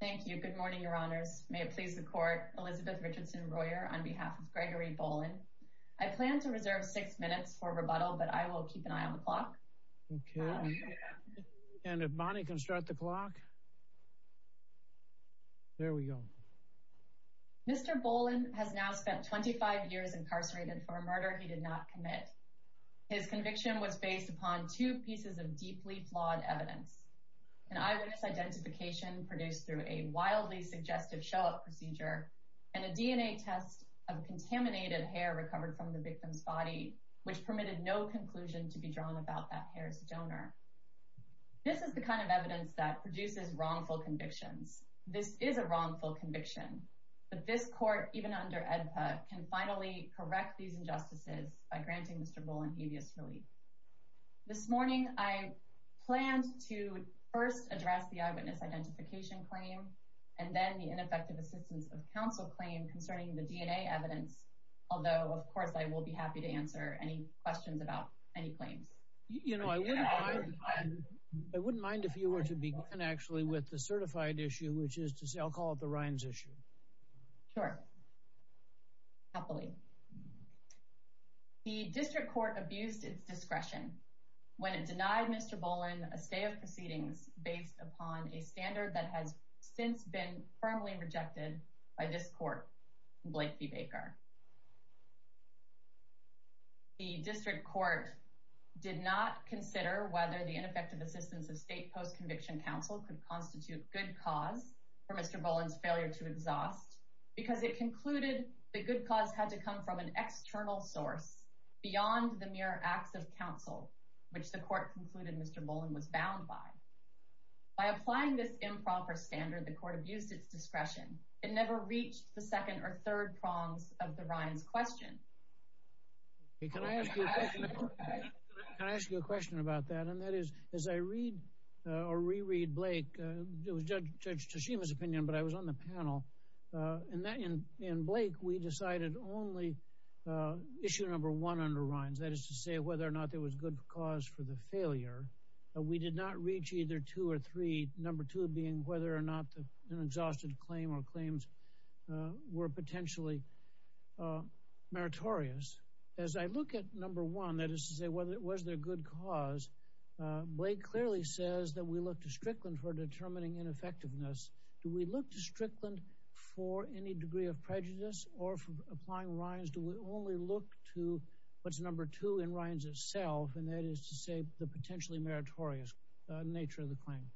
Thank you. Good morning, your honors. May it please the court. Elizabeth Richardson Royer on behalf of Gregory Bolin. I plan to reserve six minutes for rebuttal but I will keep an eye on the clock. Okay and if Bonnie can start the clock. There we go. Mr. Bolin has now spent 25 years incarcerated for a murder he did not commit. His conviction was based upon two pieces of deeply flawed evidence. An identification produced through a wildly suggestive show-up procedure and a DNA test of contaminated hair recovered from the victim's body which permitted no conclusion to be drawn about that hair's donor. This is the kind of evidence that produces wrongful convictions. This is a wrongful conviction but this court even under AEDPA can finally correct these injustices by granting Mr. Bolin habeas relief. This morning I planned to first address the eyewitness identification claim and then the ineffective assistance of counsel claim concerning the DNA evidence although of course I will be happy to answer any questions about any claims. You know I wouldn't mind if you were to begin actually with the certified issue which is to say I'll call it the Rhines issue. Sure. Happily. The district court abused its upon a standard that has since been firmly rejected by this court Blakey Baker. The district court did not consider whether the ineffective assistance of state post-conviction counsel could constitute good cause for Mr. Bolin's failure to exhaust because it concluded the good cause had to come from an external source beyond the mere acts of counsel which the court concluded Mr. Bolin was bound by. By applying this improper standard the court abused its discretion. It never reached the second or third prongs of the Rhines question. Can I ask you a question about that and that is as I read or reread Blake it was Judge Tashima's opinion but I was on the panel and that in Blake we decided only issue number one under Rhines that is to say whether or not there was good cause for the failure. We did not reach either two or three number two being whether or not an exhausted claim or claims were potentially meritorious. As I look at number one that is to say whether it was their good cause Blake clearly says that we look to Strickland for determining ineffectiveness. Do we look to Strickland for any degree of prejudice or for only look to what's number two in Rhines itself and that is to say the potentially meritorious nature of the claim?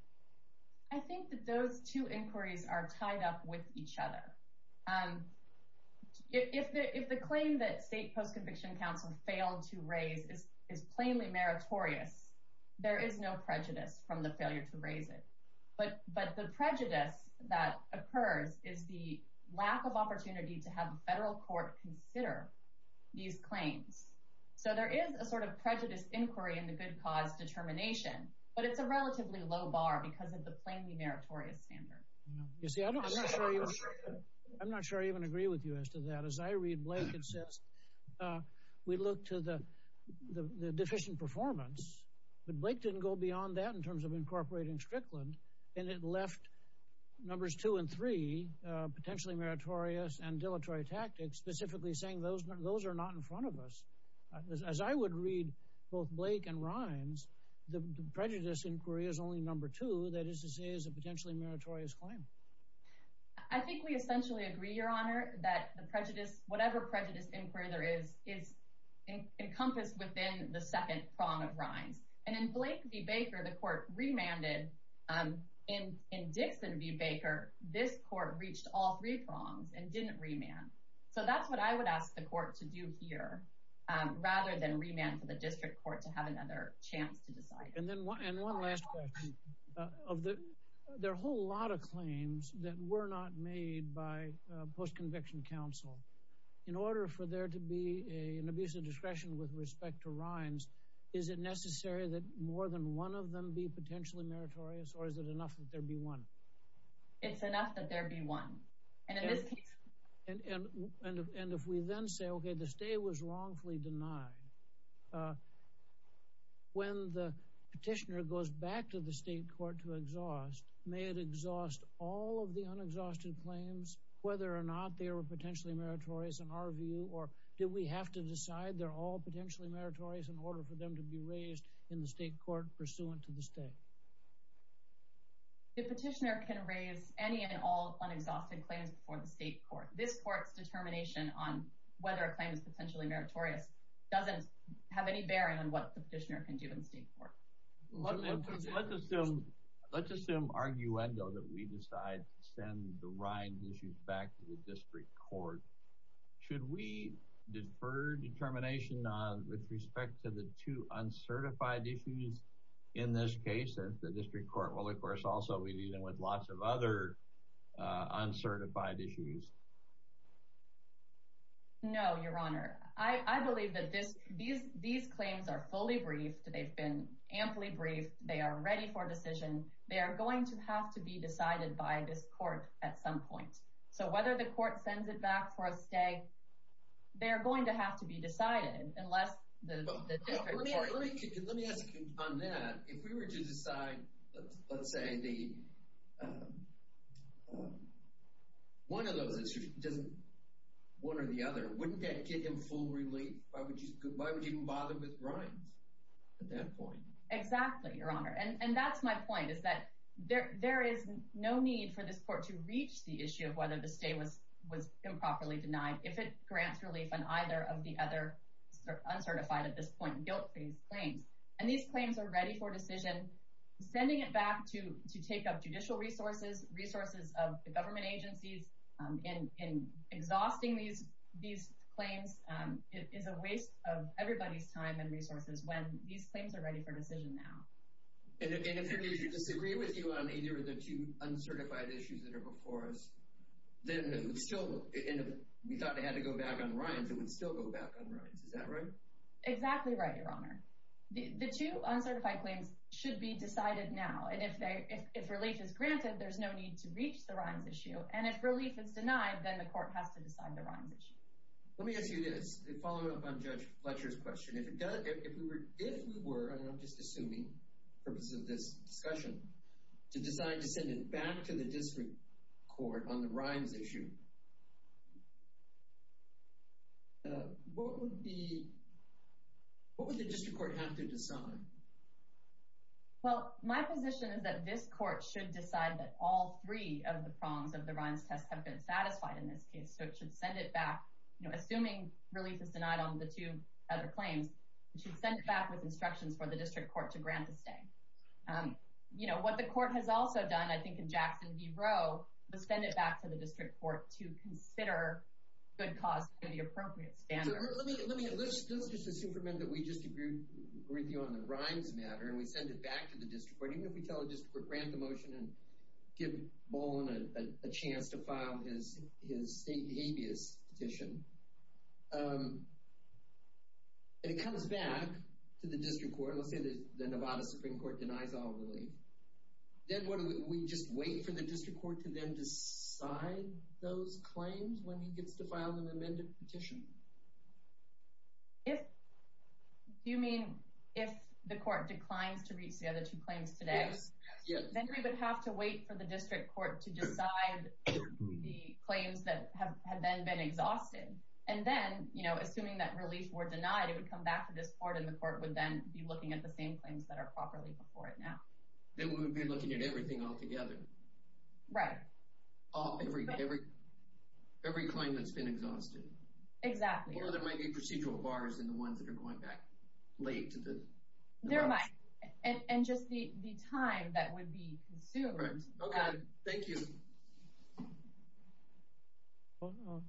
I think that those two inquiries are tied up with each other. If the claim that state post-conviction counsel failed to raise is plainly meritorious there is no prejudice from the failure to raise it but but the prejudice that occurs is the lack of these claims. So there is a sort of prejudice inquiry in the good cause determination but it's a relatively low bar because of the plainly meritorious standard. You see I'm not sure I even agree with you as to that as I read Blake it says we look to the the deficient performance but Blake didn't go beyond that in terms of incorporating Strickland and it left numbers two and three potentially meritorious and dilatory tactics specifically saying those are not in front of us. As I would read both Blake and Rhines the prejudice inquiry is only number two that is to say is a potentially meritorious claim. I think we essentially agree your honor that the prejudice whatever prejudice inquiry there is is encompassed within the second prong of Rhines and in Blake v. Baker the court remanded in Dixon v. Baker this court reached all three prongs and didn't remand. So that's what I would ask the court to do here rather than remand to the district court to have another chance to decide. And then one last question of the there are a whole lot of claims that were not made by post-conviction counsel. In order for there to be an abuse of discretion with respect to Rhines is it necessary that more than one of them be potentially meritorious or is it enough that there be one? And if we then say okay the stay was wrongfully denied when the petitioner goes back to the state court to exhaust may it exhaust all of the unexhausted claims whether or not they were potentially meritorious in our view or did we have to decide they're all potentially meritorious in order for them to be raised in the state court pursuant to the stay? The petitioner can raise any and all unexhausted claims before the state court. This court's determination on whether a claim is potentially meritorious doesn't have any bearing on what the petitioner can do in the state court. Let's assume arguendo that we decide to send the Rhines issues back to the district court. Should we defer determination with respect to the two uncertified issues in this case if the district court will of course also be dealing with lots of other uncertified issues? No, your honor. I believe that these claims are fully briefed. They've been amply briefed. They are ready for decision. They are going to have to be decided by this court at some point. So whether the court sends it back for a stay they're going to have to be decided unless the one of those issues, one or the other, wouldn't that give them full relief? Why would you even bother with Rhines at that point? Exactly, your honor. And that's my point is that there is no need for this court to reach the issue of whether the stay was improperly denied if it grants relief on either of the other uncertified at this point guilt-based claims. And these claims are ready for decision. Sending it back to take up judicial resources, resources of the government agencies in exhausting these claims is a waste of everybody's time and resources when these claims are ready for decision now. And if they disagree with you on either of the two uncertified issues that are before us, then we thought they had to go back on Rhines and would still go back on Rhines. Is that right? Exactly right, your honor. The two uncertified claims should be decided now. And if they, if relief is granted, there's no need to reach the Rhines issue. And if relief is denied, then the court has to decide the Rhines issue. Let me ask you this following up on Judge Fletcher's question. If it does, if we were, if we were, I'm just assuming the purpose of this discussion, to decide to send it back to the district court on the Rhines issue, what would the, what would the district court have to decide? Well, my position is that this court should decide that all three of the prongs of the Rhines test have been satisfied in this case. So it should send it back, you know, assuming relief is denied on the two other claims, it should send it back with instructions for the district court to grant the stay. You know, what the court has also done, I think in Jackson v. Roe, was send it back to the district court to consider good cause for the appropriate standards. Let me, let me, let's just assume for a minute that we just agreed with you on the Rhines matter, and we send it back to the district court. Even if we tell the district court, grant the motion and give Boland a chance to file his, his state habeas petition. And it comes back to the district court, let's say the Nevada Supreme Court denies all relief. Then what do we, do we just wait for the district court to then decide those claims when he gets to file an amended petition? If, do you mean if the court declines to reach the other two claims today? Yes, yes. Then we would have to wait for the district court to decide the claims that have, have then been exhausted. And then, you know, assuming that relief were denied, it would come back to this court and the court would then be looking at the same claims that are properly before it now. Then we would be looking at everything altogether. Right. All, every, every, every claim that's been exhausted. Exactly. Or there might be procedural bars in the ones that are going back late. There might. And, and just the, the time that would be consumed. Right. Okay. Thank you.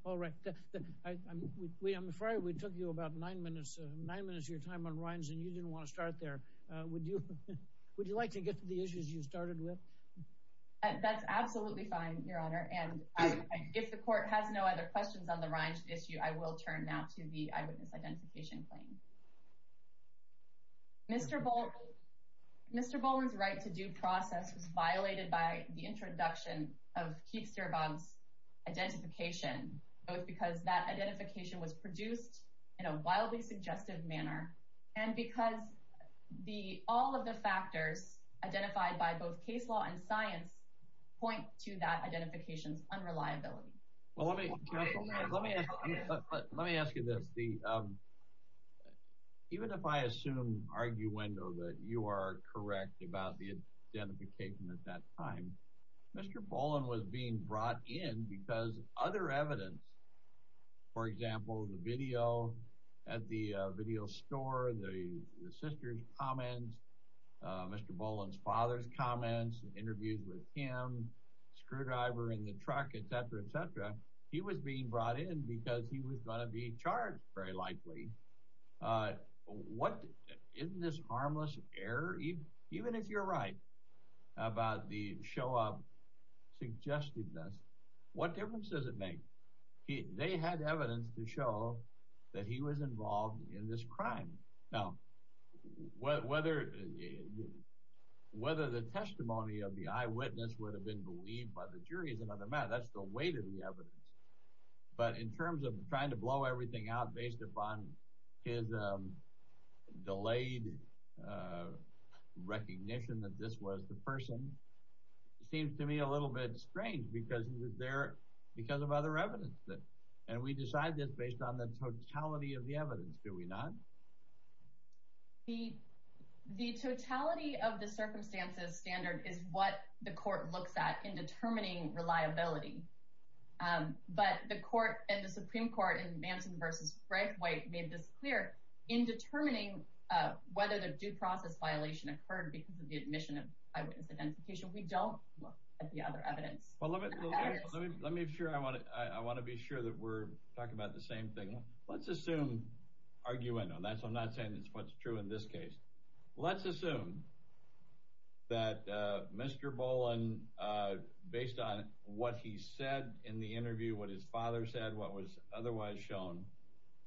All right. I'm, we, I'm afraid we took you about nine minutes, nine minutes of your time on Rhines, and you didn't want to start there. Would you, would you like to get to the issues you started with? That's absolutely fine, Your Honor. And if the court has no other questions on the Rhines issue, I will turn now to the eyewitness identification claim. Mr. Boland, Mr. Boland's right to due process was violated by the introduction of Keith Stierbaum's identification, both because that identification was produced in a wildly suggestive manner, and because the, all of the factors identified by both case law and science point to that identification's unreliability. Well, let me, let me, let me ask you this. The, even if I assume arguendo that you are correct about the identification at that time, Mr. Boland was being brought in because other evidence, for example, the video at the video store, the, the sister's comments, Mr. Boland's father's comments, interviews with him, screwdriver in the truck, et cetera, et cetera. He was being brought in because he was going to be charged, very likely. What, isn't this harmless error? Even if you're right about the show of suggestiveness, what difference does it make? He, they had evidence to show that he was involved in this crime. Now, whether, whether the testimony of the eyewitness would have been believed by the jury is another matter. That's the weight of the evidence. But in terms of that this was, the person seems to me a little bit strange because they're, because of other evidence that, and we decide this based on the totality of the evidence, do we not? The, the totality of the circumstances standard is what the court looks at in determining reliability. But the court and the Supreme Court in Manson versus Frank White made this clear in determining whether the due process violation occurred because of the admission of eyewitness identification. We don't look at the other evidence. Well, let me, let me, let me make sure I want to, I want to be sure that we're talking about the same thing. Let's assume, arguing on that, so I'm not saying it's what's true in this case. Let's assume that Mr. Boland, based on what he said in the interview, what his father said, what was otherwise shown,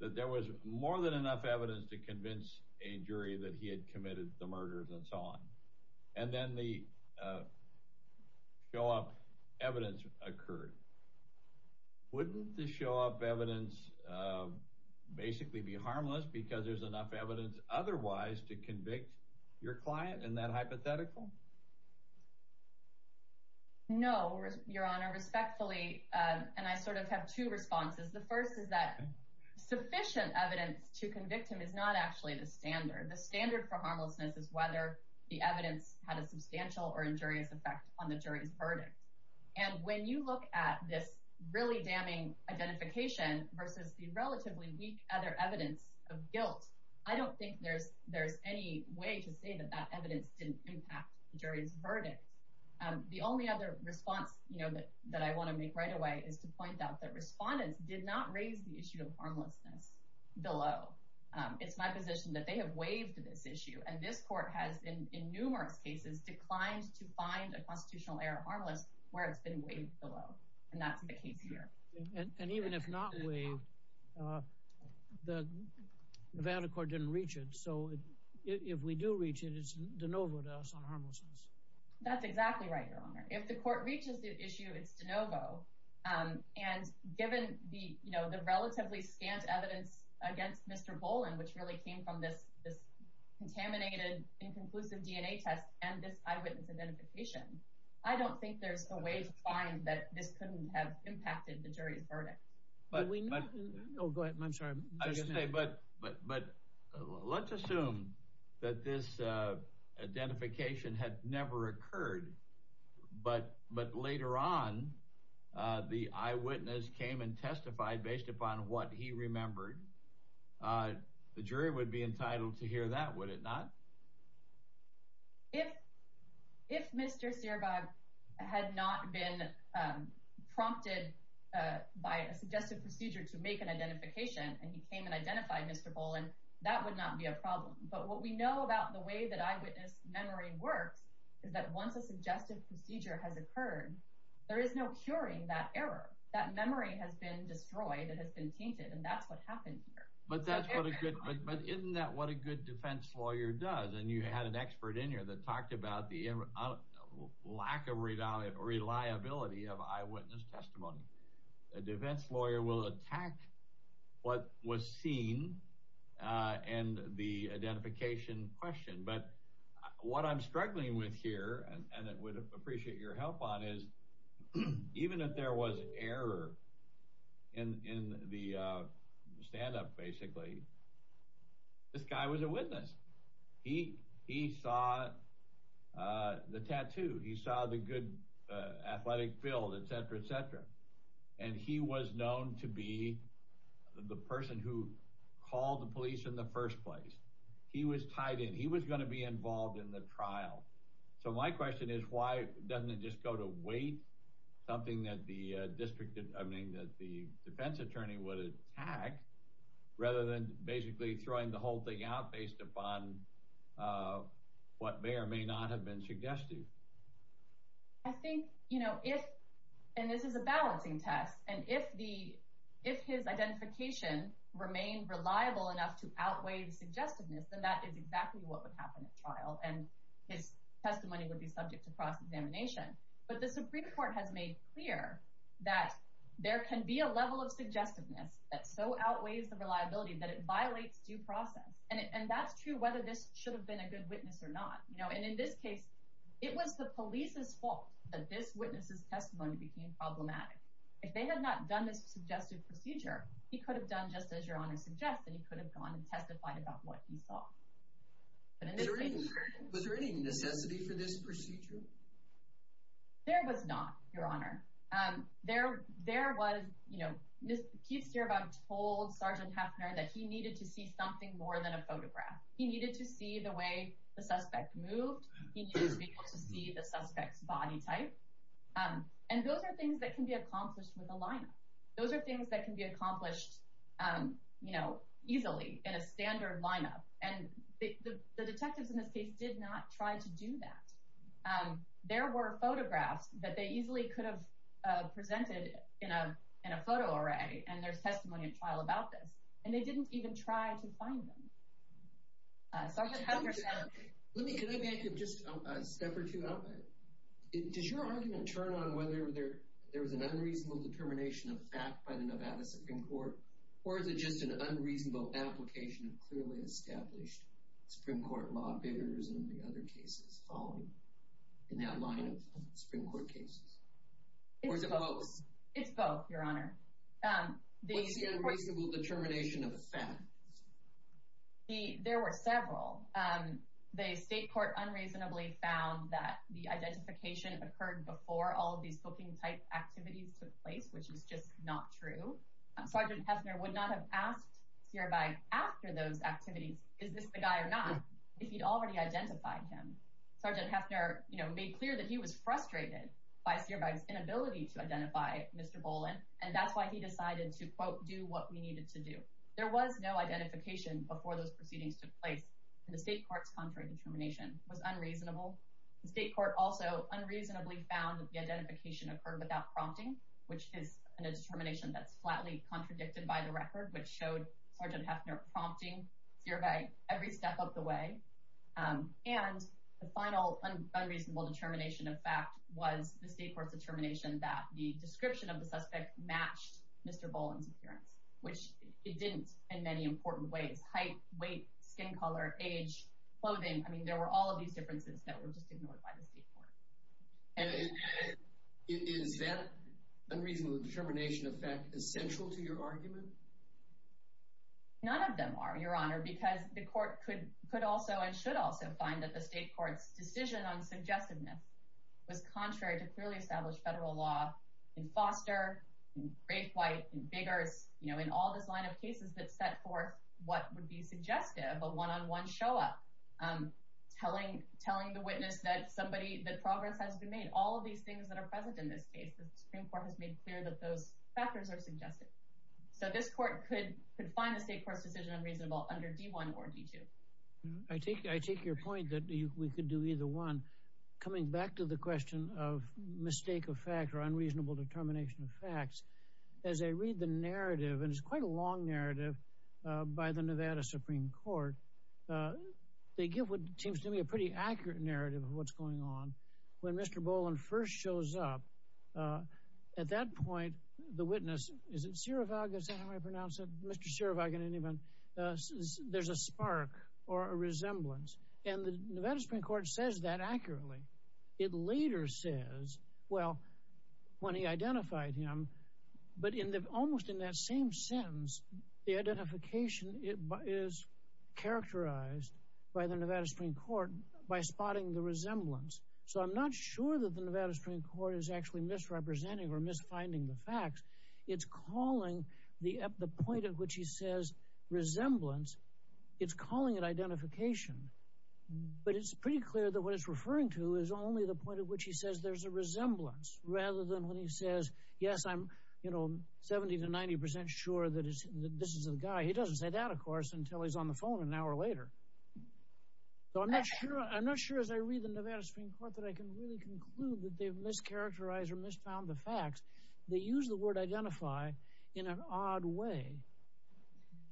that there was more than enough evidence to convince a jury that he had committed the murders and so on. And then the show-up evidence occurred. Wouldn't the show-up evidence basically be harmless because there's enough evidence otherwise to convict your client in that hypothetical? No, Your Honor. Respectfully, and I sort of have two responses. The first is that it's not actually the standard. The standard for harmlessness is whether the evidence had a substantial or injurious effect on the jury's verdict. And when you look at this really damning identification versus the relatively weak other evidence of guilt, I don't think there's, there's any way to say that that evidence didn't impact the jury's verdict. The only other response, you know, that, that I want to make right away is to point out that respondents did not raise the issue of harmlessness below. It's my position that they have waived this issue. And this court has, in numerous cases, declined to find a constitutional error harmless where it's been waived below. And that's the case here. And even if not waived, the Nevada court didn't reach it. So if we do reach it, it's de novo to us on harmlessness. That's exactly right, Your Honor. If the court reaches the issue, it's de novo. And given the, you know, the relatively scant evidence against Mr. Boland, which really came from this, this contaminated inconclusive DNA test and this eyewitness identification, I don't think there's a way to find that this couldn't have impacted the jury's verdict. But we know, oh, go ahead. I'm sorry. But let's assume that this identification had never occurred. But later on, the eyewitness came and testified based upon what he remembered. The jury would be entitled to hear that, would it not? If Mr. Cierbog had not been prompted by a suggested procedure to make an identification and he came and identified Mr. Boland, that would not be a problem. But what we know about the way that eyewitness memory works is that once a suggested procedure has occurred, there is no curing that error. That memory has been destroyed. It has been tainted. And that's what happened here. But isn't that what a good defense lawyer does? And you had an expert in here that talked about the lack of reliability of eyewitness testimony. A defense lawyer will attack what was seen and the identification question. But what I'm and I would appreciate your help on is even if there was error in the stand-up, basically, this guy was a witness. He saw the tattoo. He saw the good athletic field, et cetera, et cetera. And he was known to be the person who called the police in the first place. He was tied in. He was going to be involved in the Why doesn't it just go to wait, something that the defense attorney would attack, rather than basically throwing the whole thing out based upon what may or may not have been suggested? I think, you know, if, and this is a balancing test, and if his identification remained reliable enough to outweigh the suggestiveness, then that is exactly what would happen at trial. And his testimony would be subject to cross-examination. But the Supreme Court has made clear that there can be a level of suggestiveness that so outweighs the reliability that it violates due process. And that's true whether this should have been a good witness or not. You know, and in this case, it was the police's fault that this witness's testimony became problematic. If they had not done this suggestive procedure, he could have done just as your Honor suggests, and he could have gone and saw. Was there any necessity for this procedure? There was not, your Honor. There was, you know, Keith Stierbaum told Sergeant Heffner that he needed to see something more than a photograph. He needed to see the way the suspect moved. He needed to be able to see the suspect's body type. And those are things that can be accomplished with a lineup. Those are things that can be accomplished, you know, easily in a standard lineup. And the detectives in this case did not try to do that. There were photographs that they easily could have presented in a photo array, and there's testimony at trial about this. And they didn't even try to find them. Sergeant Heffner said... Let me, can I make just a step or two? Does your argument turn on whether there was an unreasonable application of clearly established Supreme Court law barriers in the other cases following, in that line of Supreme Court cases? Or is it both? It's both, your Honor. What's the unreasonable determination of facts? There were several. The state court unreasonably found that the identification occurred before all of these booking-type activities took place, which is just not true. Sergeant Heffner would not have asked Cierbag after those activities, is this the guy or not, if he'd already identified him. Sergeant Heffner, you know, made clear that he was frustrated by Cierbag's inability to identify Mr. Boland, and that's why he decided to, quote, do what we needed to do. There was no identification before those proceedings took place, and the state court's contrary determination was unreasonable. The state court also unreasonably found that the identification occurred without prompting, which is a determination that's flatly contradicted by the record, which showed Sergeant Heffner prompting Cierbag every step of the way. And the final unreasonable determination of fact was the state court's determination that the description of the suspect matched Mr. Boland's appearance, which it didn't in many important ways. Height, weight, skin color, age, clothing, I mean, there were all of these differences that were just ignored by the state court. And is that unreasonable determination of fact essential to your argument? None of them are, Your Honor, because the court could also and should also find that the state court's decision on suggestiveness was contrary to clearly established federal law in Foster, in Grapewhite, in Biggers, you know, in all this line of cases that set forth what would be suggestive, a one-on-one show-up, telling the witness that progress has been made. All of these things that are present in this case, the Supreme Court has made clear that those factors are suggestive. So this court could find the state court's decision unreasonable under D-1 or D-2. I take your point that we could do either one. Coming back to the question of mistake of fact or unreasonable determination of facts, as I read the narrative, and it's quite a long narrative by the Nevada Supreme Court, they give what seems to me a pretty accurate narrative of what's going on. When Mr. Boland first shows up, at that point, the witness, is it Cirovaga, is that how I pronounce it, Mr. Cirovaga, there's a spark or a resemblance. And the Nevada Supreme Court says that accurately. It later says, well, when he identified him, but almost in that same sentence, the identification is characterized by the Nevada Supreme Court by spotting the resemblance. So I'm not sure that the Nevada Supreme Court is actually misrepresenting or misfinding the facts. It's calling the point at which he says resemblance, it's calling it identification. But it's pretty clear that what it's referring to is only the point at which he says there's a resemblance, rather than when he says, yes, I'm, you know, 70 to 90 percent sure that this is the guy. He doesn't say that, of course, until he's on the phone an hour later. So I'm not sure, as I read the Nevada Supreme Court, that I can really conclude that they've mischaracterized or misfound the facts. They use the word identify in an odd way.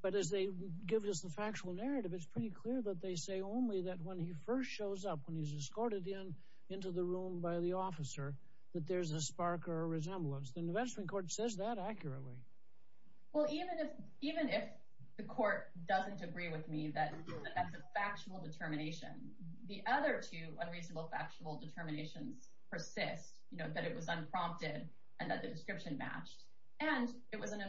But as they give us the factual narrative, it's pretty clear that they say only that when he first shows up, when he's escorted in into the room by the officer, that there's a spark or a resemblance. The Nevada Supreme Court says that accurately. Well, even if the court doesn't agree with me that that's a factual determination, the other two unreasonable factual determinations persist, you know, that it was unprompted and that the description matched, and it was an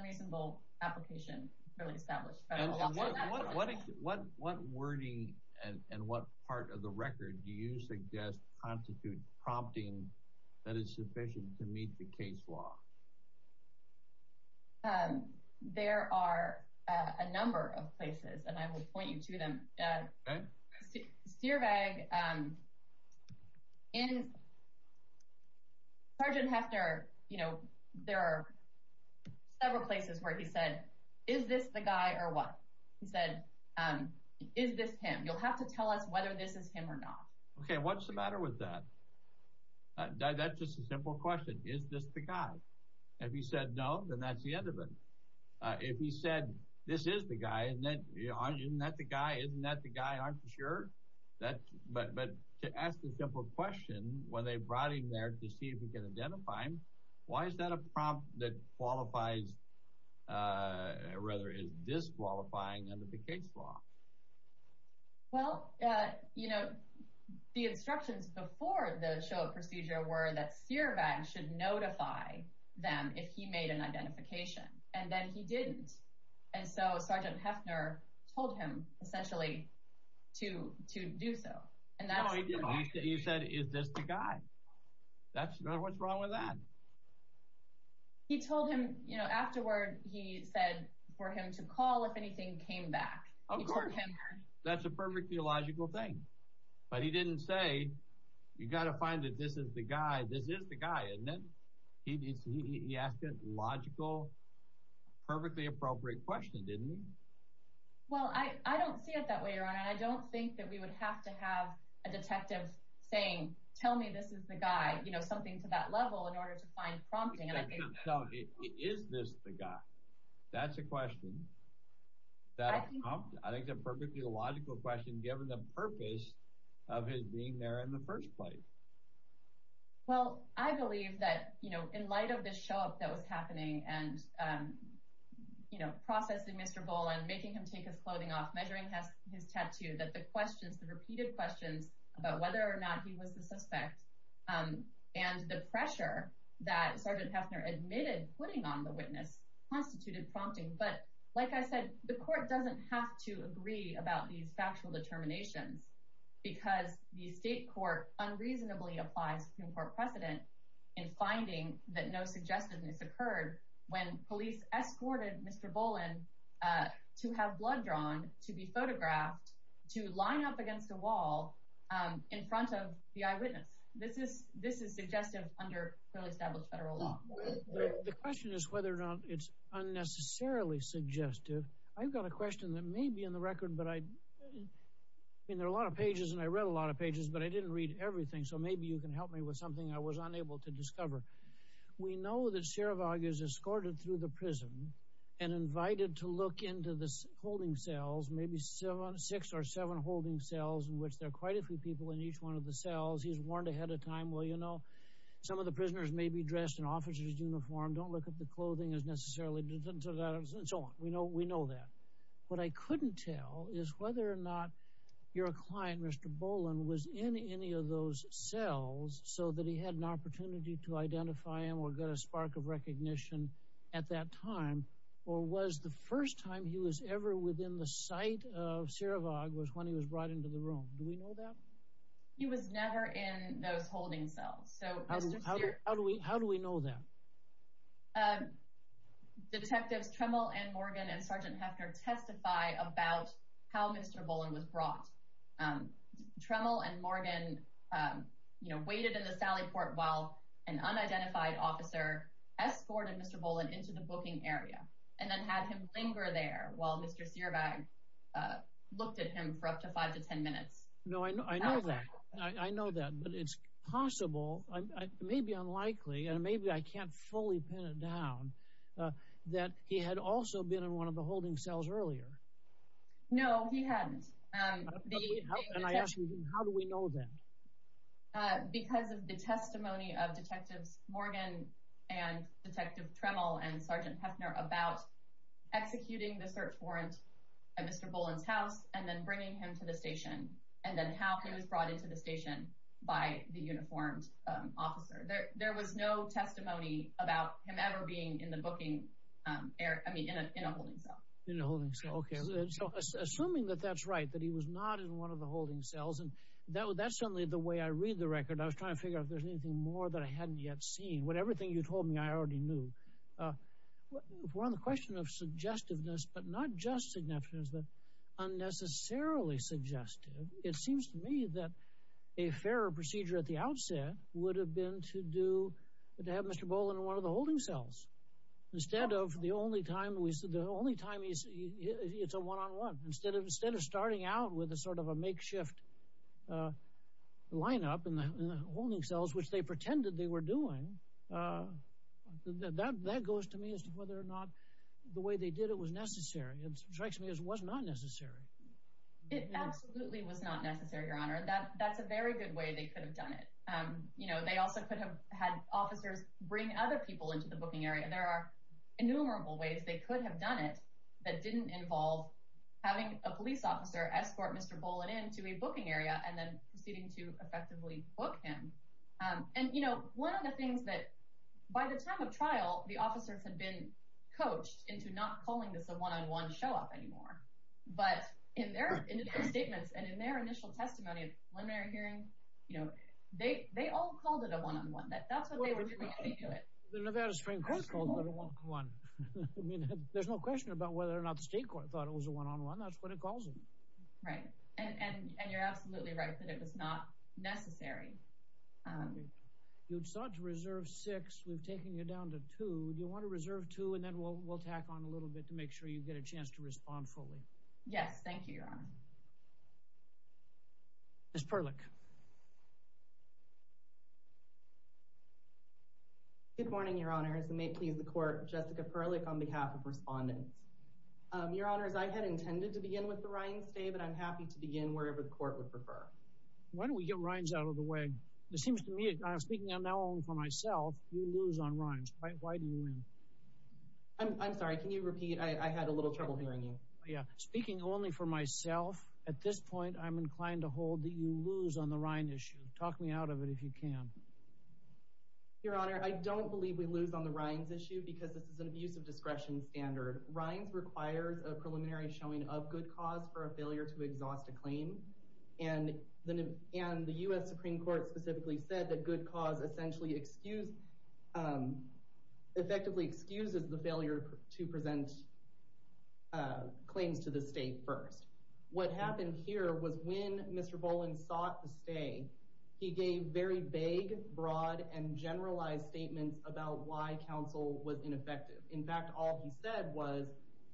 record, do you suggest constitutes prompting that is sufficient to meet the case law? There are a number of places, and I will point you to them. Stierweg, in Sergeant Heffner, you know, there are several places where he said, is this the guy or what? He said, is this him? You'll have to tell us whether this is him or not. Okay, what's the matter with that? That's just a simple question. Is this the guy? If he said no, then that's the end of it. If he said, this is the guy, isn't that the guy, isn't that the guy, aren't you sure? But to ask the simple question when they brought him there to see if you can identify him, why is that a prompt that qualifies, rather is disqualifying under the case law? Well, you know, the instructions before the show of procedure were that Stierweg should notify them if he made an identification, and then he didn't. And so Sergeant Heffner told him, essentially, to do so. He said, is this the guy? What's wrong with that? He told him, you know, afterward, he said for him to call if anything came back. That's a perfectly logical thing. But he didn't say, you got to find that this is the guy, this is the guy, isn't it? He asked a logical, perfectly appropriate question, didn't he? Well, I don't see it that way, Your Honor. I don't think that we would have to have a detective saying, tell me this is the guy, you know, something to that level, in order to find prompting. Is this the guy? That's a question. I think it's a perfectly logical question, given the purpose of his being there in the first place. Well, I believe that, you know, in light of this show up that was happening and, you know, processing Mr. Boland, making him take his clothing off, measuring his tattoo, that the questions, the repeated questions about whether or not he was the suspect, and the pressure that Sergeant Heffner admitted putting on the witness, constituted prompting. But like I said, the court doesn't have to agree about these factual determinations, because the state court unreasonably applies Supreme Court precedent in finding that no police escorted Mr. Boland to have blood drawn, to be photographed, to line up against a wall in front of the eyewitness. This is suggestive under fairly established federal law. The question is whether or not it's unnecessarily suggestive. I've got a question that may be in the record, but I mean, there are a lot of pages and I read a lot of pages, but I didn't read everything. So maybe you can help me with something I was unable to discover. We know that Sherevog is escorted through the prison and invited to look into the holding cells, maybe six or seven holding cells, in which there are quite a few people in each one of the cells. He's warned ahead of time, well, you know, some of the prisoners may be dressed in officer's uniform, don't look at the clothing as necessarily, and so on. We know that. What I couldn't tell is whether or not your client, Mr. Boland, was in any of those cells so that he had an opportunity to identify him or get a spark of recognition at that time, or was the first time he was ever within the sight of Sherevog was when he was brought into the room. Do we know that? He was never in those holding cells. How do we know that? Detectives Tremble and Morgan and Sergeant Hefner testify about how Mr. Boland was brought. Tremble and Morgan, you know, waited in the sally port while an unidentified officer escorted Mr. Boland into the booking area and then had him linger there while Mr. Sherevog looked at him for up to five to ten minutes. No, I know that. I know that, but it's possible, maybe unlikely, and maybe I can't fully pin it down, that he had also been in one of the holding cells earlier. No, he hadn't. And I asked you, how do we know that? Because of the testimony of Detectives Morgan and Detective Tremble and Sergeant Hefner about executing the search warrant at Mr. Boland's house and then bringing him to the station, and then how he was brought into the station by the uniformed officer. There was no testimony about him ever being in the booking area, I mean, in a holding cell. In a holding cell, okay. So, assuming that that's right, that he was not in one of the holding cells, and that's certainly the way I read the record. I was trying to figure out if there's anything more that I hadn't yet seen. Everything you told me, I already knew. We're on the question of suggestiveness, but not just significance, but unnecessarily suggestive. It seems to me that a fairer procedure at the outset would have been to do, to have Mr. Boland in one of the holding cells. Instead of the only time, we said the only time it's a one-on-one. Instead of starting out with a sort of a makeshift lineup in the holding cells, which they pretended they were doing, that goes to me as to whether or not the way they did it was necessary. It strikes me as it was not necessary. It absolutely was not necessary, Your Honor. That's a very good way they could have done it. They also could have had officers bring other people into the booking area. There are innumerable ways they could have done it that didn't involve having a police officer escort Mr. Boland into a booking area and then proceeding to effectively book him. One of the things that, by the time of trial, the officers had been coached into not calling this a one-on-one show-off anymore. But in their initial statements and in their initial testimony at the preliminary hearing, they all called it a one-on-one. That's what they were trying to do. The Nevada Supreme Court called it a one-on-one. There's no question about whether or not the state thought it was a one-on-one. That's what it calls it. Right. And you're absolutely right that it was not necessary. You sought to reserve six. We've taken you down to two. Do you want to reserve two, and then we'll tack on a little bit to make sure you get a chance to respond fully? Yes, thank you, Your Honor. Ms. Perlick. Good morning, Your Honors. And may it please the Court, Jessica Perlick on behalf of respondents. Your Honors, I had intended to begin with the Rhines today, but I'm happy to begin wherever the Court would prefer. Why don't we get Rhines out of the way? It seems to me, speaking now only for myself, you lose on Rhines. Why do you win? I'm sorry. Can you repeat? I had a little trouble hearing you. Yeah. Speaking only for myself, at this point, I'm inclined to hold that you lose on the Rhines issue. Talk me out of it if you can. Your Honor, I don't believe we lose on the Rhines issue, because this is an abuse of discretion standard. Rhines requires a preliminary showing of good cause for a failure to exhaust a claim. And the U.S. Supreme Court specifically said that good cause effectively excuses the failure to present claims to the state first. What happened here was when Mr. Boland sought to stay, he gave very vague, broad, and generalized statements about why counsel was ineffective. In fact, all he said was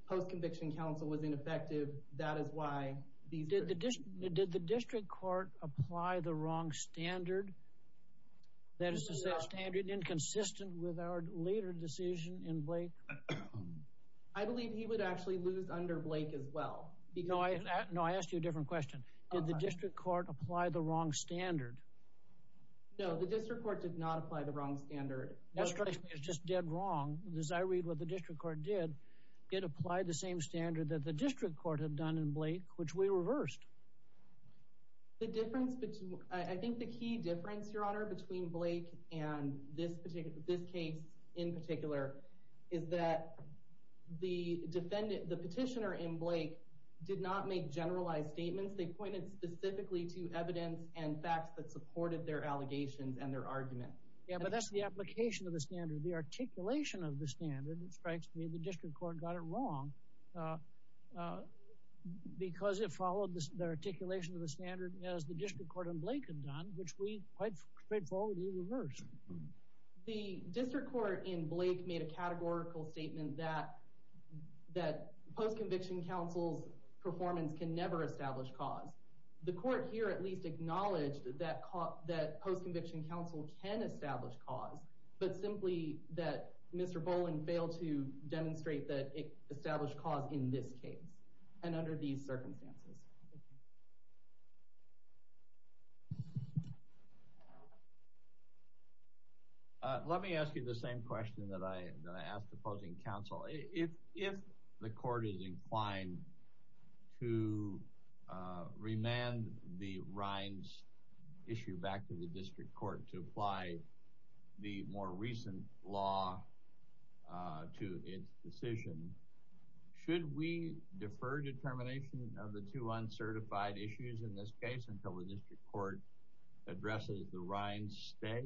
post-conviction counsel was ineffective. That is why these... Did the district court apply the wrong standard? That is to say, a standard inconsistent with our later decision in Blake? I believe he would actually lose under Blake as well. No, I asked you a different question. Did the district court apply the wrong standard? No, the district court did not apply the wrong standard. It's just dead wrong. As I read what the district court did, it applied the same standard that the district court had done in Blake, which we reversed. The difference between... I think the key difference, Your Honor, between Blake and this particular... this case in particular, is that the defendant, the petitioner in Blake, did not make generalized statements. They pointed specifically to evidence and facts that supported their allegations and their argument. Yeah, but that's the application of the standard. The articulation of the standard, it strikes me, the district court got it wrong because it followed the articulation of the standard as the district court in Blake had done, which we quite straightforwardly reversed. The district court in Blake made a categorical statement that post-conviction counsel's performance can never establish cause. The court here at least acknowledged that post-conviction counsel can establish cause, but simply that Mr. Boland failed to demonstrate that it established cause in this case and under these circumstances. Let me ask you the same question that I asked the opposing counsel. If the court is inclined to remand the Rines issue back to the district court to apply the more recent law to its decision, should we defer determination of the two uncertified issues in this case until the district court addresses the Rines stay?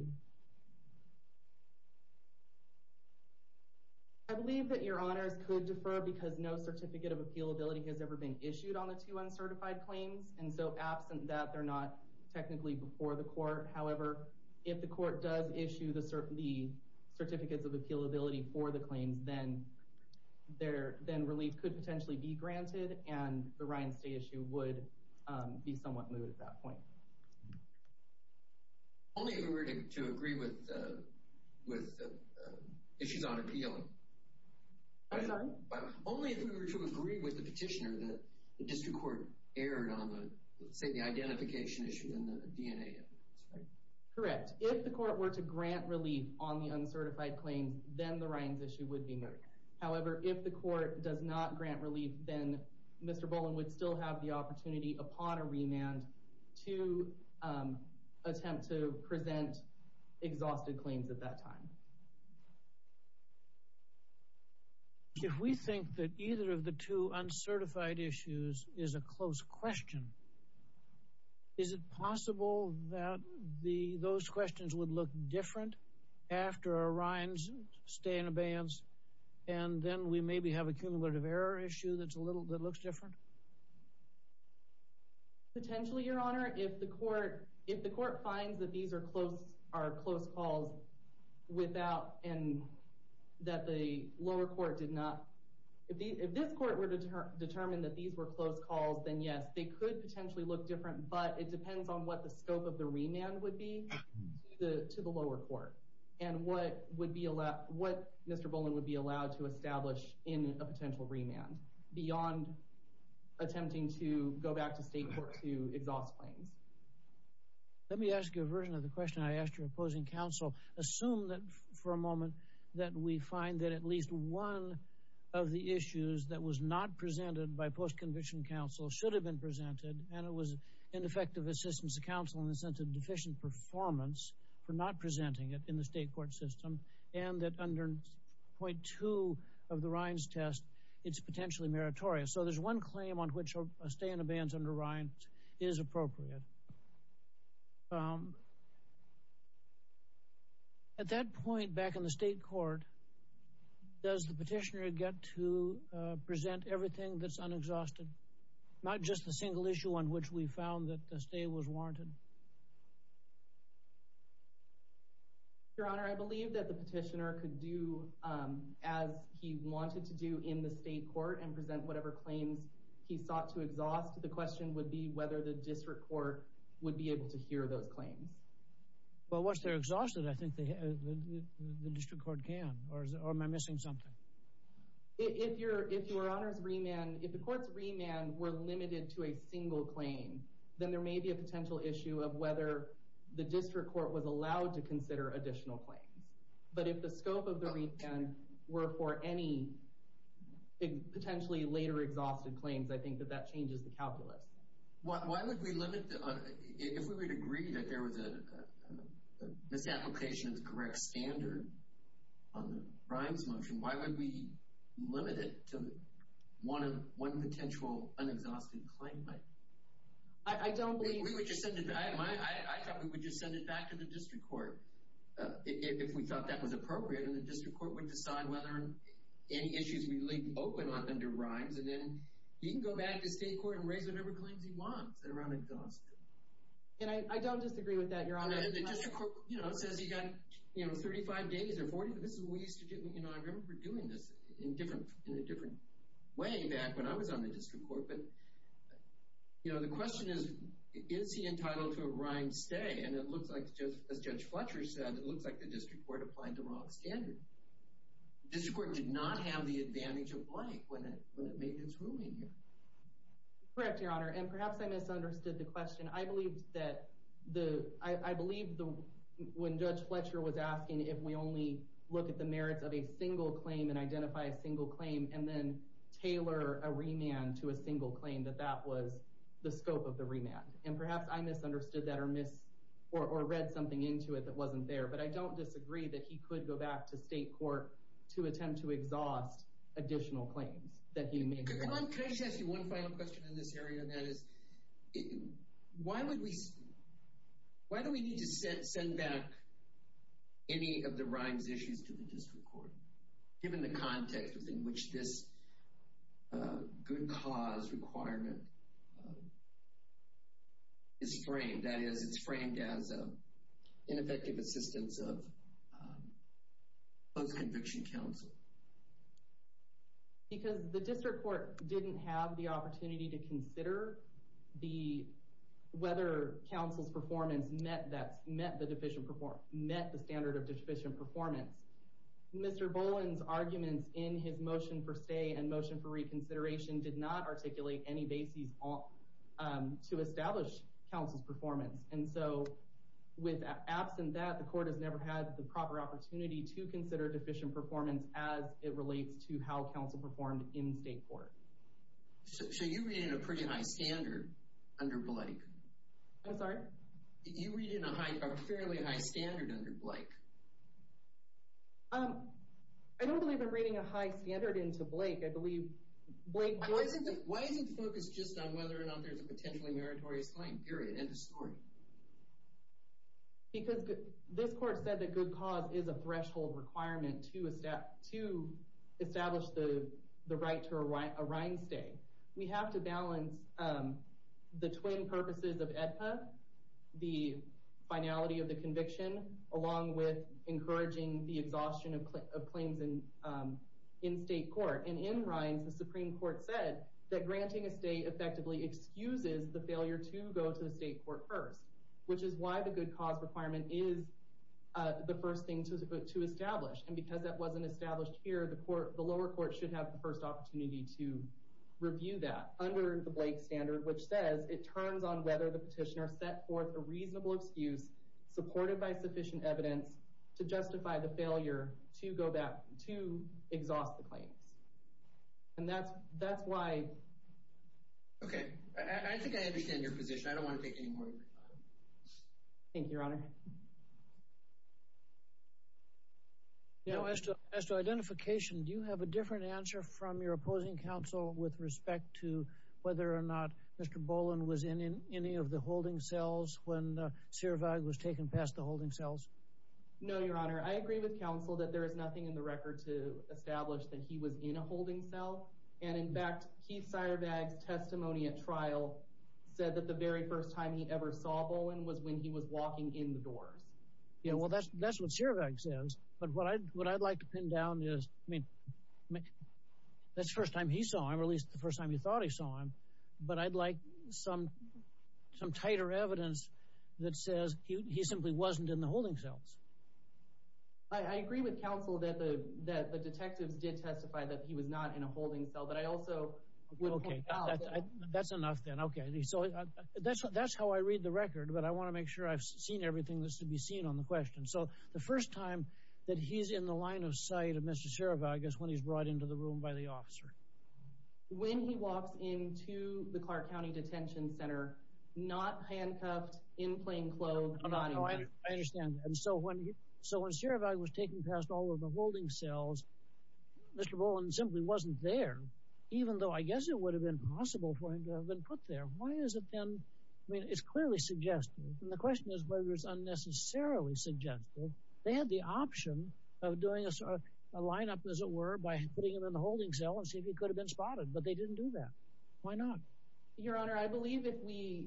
I believe that Your Honors could defer because no certificate of appealability has ever been issued on the two uncertified claims, and so absent that, they're not technically before the court. However, if the court does issue the certificates of appealability for the claims, then relief could potentially be granted and the Rines stay issue would be somewhat moved at that point. Only if we were to agree with issues on appealing. I'm sorry? Only if we were to agree with the petitioner that the district court erred on the, say, the identification issue in the DNA. Correct. If the court were to grant relief on the uncertified claims, then the Rines issue would be moved. However, if the court does not grant relief, then Mr. Boland would still have the opportunity upon a remand to attempt to present exhausted claims at that time. If we think that either of the two uncertified issues is a close question, is it possible that those questions would look different after a Rines stay in abeyance, and then we maybe have a cumulative error issue that looks different? Potentially, Your Honor. If the court finds that these are close calls without, and that the lower court did not, if this court were to determine that these were close calls, then yes, they could potentially look different, but it depends on what the scope of the remand would be to the lower court and what Mr. Boland would be allowed to establish in a potential remand. Beyond attempting to go back to state court to exhaust claims. Let me ask you a version of the question I asked your opposing counsel. Assume that, for a moment, that we find that at least one of the issues that was not presented by post-conviction counsel should have been presented, and it was ineffective assistance to counsel in the sense of deficient performance for not presenting it in the state court system, and that under point two of the Rines test, it's potentially meritorious. So, there's one claim on which a stay in abeyance under Rines is appropriate. At that point back in the state court, does the petitioner get to present everything that's unexhausted, not just the single issue on which we found that the stay was warranted? Your Honor, I believe that the petitioner could do as he wanted to do in the state court and present whatever claims he sought to exhaust. The question would be whether the district court would be able to hear those claims. Well, once they're exhausted, I think the district court can, or am I missing something? If your Honor's remand, if the court's remand were limited to a single claim, then there may be a potential issue of whether the district court was allowed to consider additional claims. But if the scope of the remand were for any potentially later exhausted claims, I think that that changes the calculus. Why would we limit, if we would agree that there was a misapplication as correct standard on the Rines motion, why would we limit it to one potential unexhausted claim? I don't believe... I thought we would just send it back to the district court if we thought that was appropriate, and the district court would decide whether any issues we leave open under Rines, and then he can go back to state court and raise whatever claims he wants that are unexhausted. And I don't disagree with that, Your Honor. The district court says he got 35 days or 40, this is what we used to do. I remember doing this in a different way back when I was on the district court. But the question is, is he entitled to a Rines stay? And it looks like, as Judge Fletcher said, it looks like the district court applied the wrong standard. The district court did not have the advantage of blank when it made its ruling here. Correct, Your Honor. And perhaps I misunderstood the question. I believe that when Judge Fletcher was asking if we only look at the merits of a single claim and then tailor a remand to a single claim, that that was the scope of the remand. And perhaps I misunderstood that or read something into it that wasn't there, but I don't disagree that he could go back to state court to attempt to exhaust additional claims that he made. Come on, can I just ask you one final question in this area, and that is, why do we need to send back any of the Rines issues to the district court, given the context within which this good cause requirement is framed? That is, it's framed as ineffective assistance of post-conviction counsel. Because the district court didn't have the opportunity to consider whether counsel's met the standard of deficient performance. Mr. Boland's arguments in his motion for stay and motion for reconsideration did not articulate any basis to establish counsel's performance. And so with absent that, the court has never had the proper opportunity to consider deficient performance as it relates to how counsel performed in state court. So you're reading a pretty high standard under Blake. I'm sorry? You're reading a fairly high standard under Blake. I don't believe I'm reading a high standard into Blake. I believe Blake... Why is it focused just on whether or not there's a potentially meritorious claim, period, end of story? Because this court said that good cause is a threshold requirement to establish the right to a Rines stay. We have to balance the twin purposes of AEDPA, the finality of the conviction, along with encouraging the exhaustion of claims in state court. And in Rines, the Supreme Court said that granting a stay effectively excuses the failure to go to the state court first, which is why the good cause requirement is the first thing to establish. And because that wasn't the first opportunity to review that under the Blake standard, which says it turns on whether the petitioner set forth a reasonable excuse supported by sufficient evidence to justify the failure to go back to exhaust the claims. And that's why... Okay. I think I understand your position. I don't want to take any more of your time. Thank you, Your Honor. Now, as to identification, do you have a different answer from your opposing counsel with respect to whether or not Mr. Boland was in any of the holding cells when Siervag was taken past the holding cells? No, Your Honor. I agree with counsel that there is nothing in the record to establish that he was in a holding cell. And in fact, Keith Siervag's testimony at trial said that the very first time he ever saw Boland was when he was walking in the doors. Yeah, well, that's what Siervag says. But what I'd like to pin down is, I mean, that's the first time he saw him, or at least the first time he thought he saw him. But I'd like some tighter evidence that says he simply wasn't in the holding cells. I agree with counsel that the detectives did testify that he was not in a holding cell, but I also... Okay, that's enough then. Okay, so that's how I read the record, but I want to make sure I've seen everything that's to be seen on the question. So, the first time that he's in the line of sight of Mr. Siervag is when he's brought into the room by the officer. When he walks into the Clark County Detention Center, not handcuffed, in plain clothes. I understand. And so when Siervag was taken past all of the holding cells, Mr. Boland simply wasn't there, even though I guess it would have been possible for him to have been put there. Why is it then... I mean, it's clearly suggestive. And the question is whether it's unnecessarily suggestive. They had the option of doing a lineup, as it were, by putting him in the holding cell and see if he could have been spotted, but they didn't do that. Why not? Your Honor, I believe if we...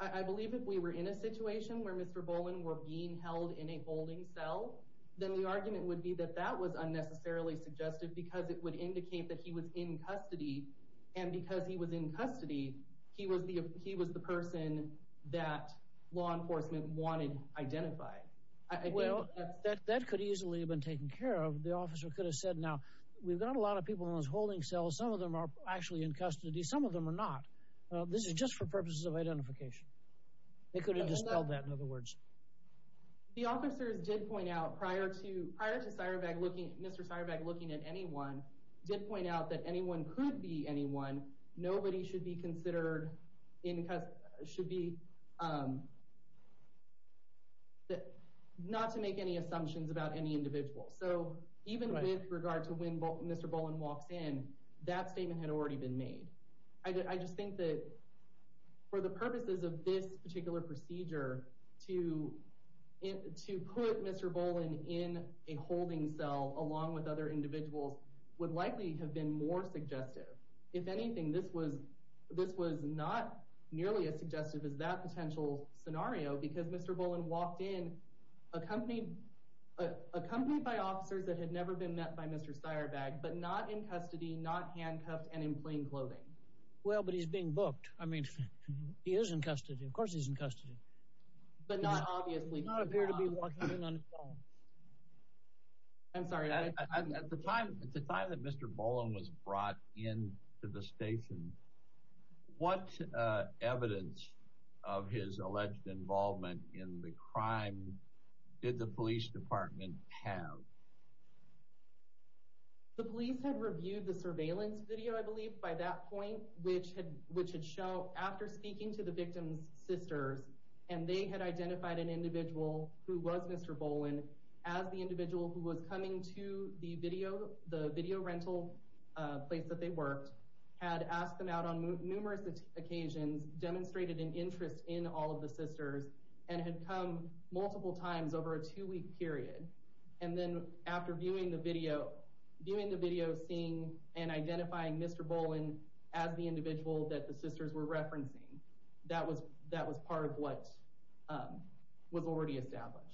I believe if we were in a situation where Mr. Boland were held in a holding cell, then the argument would be that that was unnecessarily suggestive because it would indicate that he was in custody. And because he was in custody, he was the person that law enforcement wanted identified. Well, that could easily have been taken care of. The officer could have said, now, we've got a lot of people in those holding cells. Some of them are actually in custody. Some of them are not. This is just for purposes of identification. They could have dispelled that, in other words. The officers did point out, prior to... prior to Syravag looking... Mr. Syravag looking at anyone, did point out that anyone could be anyone. Nobody should be considered in custody... should be... not to make any assumptions about any individual. So even with regard to when Mr. Boland walks in, that statement had already been made. I just think that for the purposes of this particular procedure, to... to put Mr. Boland in a holding cell along with other individuals would likely have been more suggestive. If anything, this was... this was not nearly as suggestive as that potential scenario because Mr. Boland walked in accompanied... accompanied by officers that had never been met by Mr. Syravag, but not in custody, not handcuffed, and in plain clothing. Well, but he's being booked. I mean, he is in custody. Of course he's in custody. But not obviously. He does not appear to be walking in on his own. I'm sorry. At the time... at the time that Mr. Boland was brought in to the station, what evidence of his alleged involvement in the crime did the police department have? The police had reviewed the surveillance video, I believe, by that point, which had... which had shown after speaking to the victim's sisters, and they had identified an individual who was Mr. Boland as the individual who was coming to the video... the video rental place that they worked, had asked them out on numerous occasions, demonstrated an interest in all of the sisters, and had come multiple times over a two-week period. And then after viewing the video... viewing the video, seeing and identifying Mr. Boland as the individual that the sisters were referencing, that was... that was part of what was already established.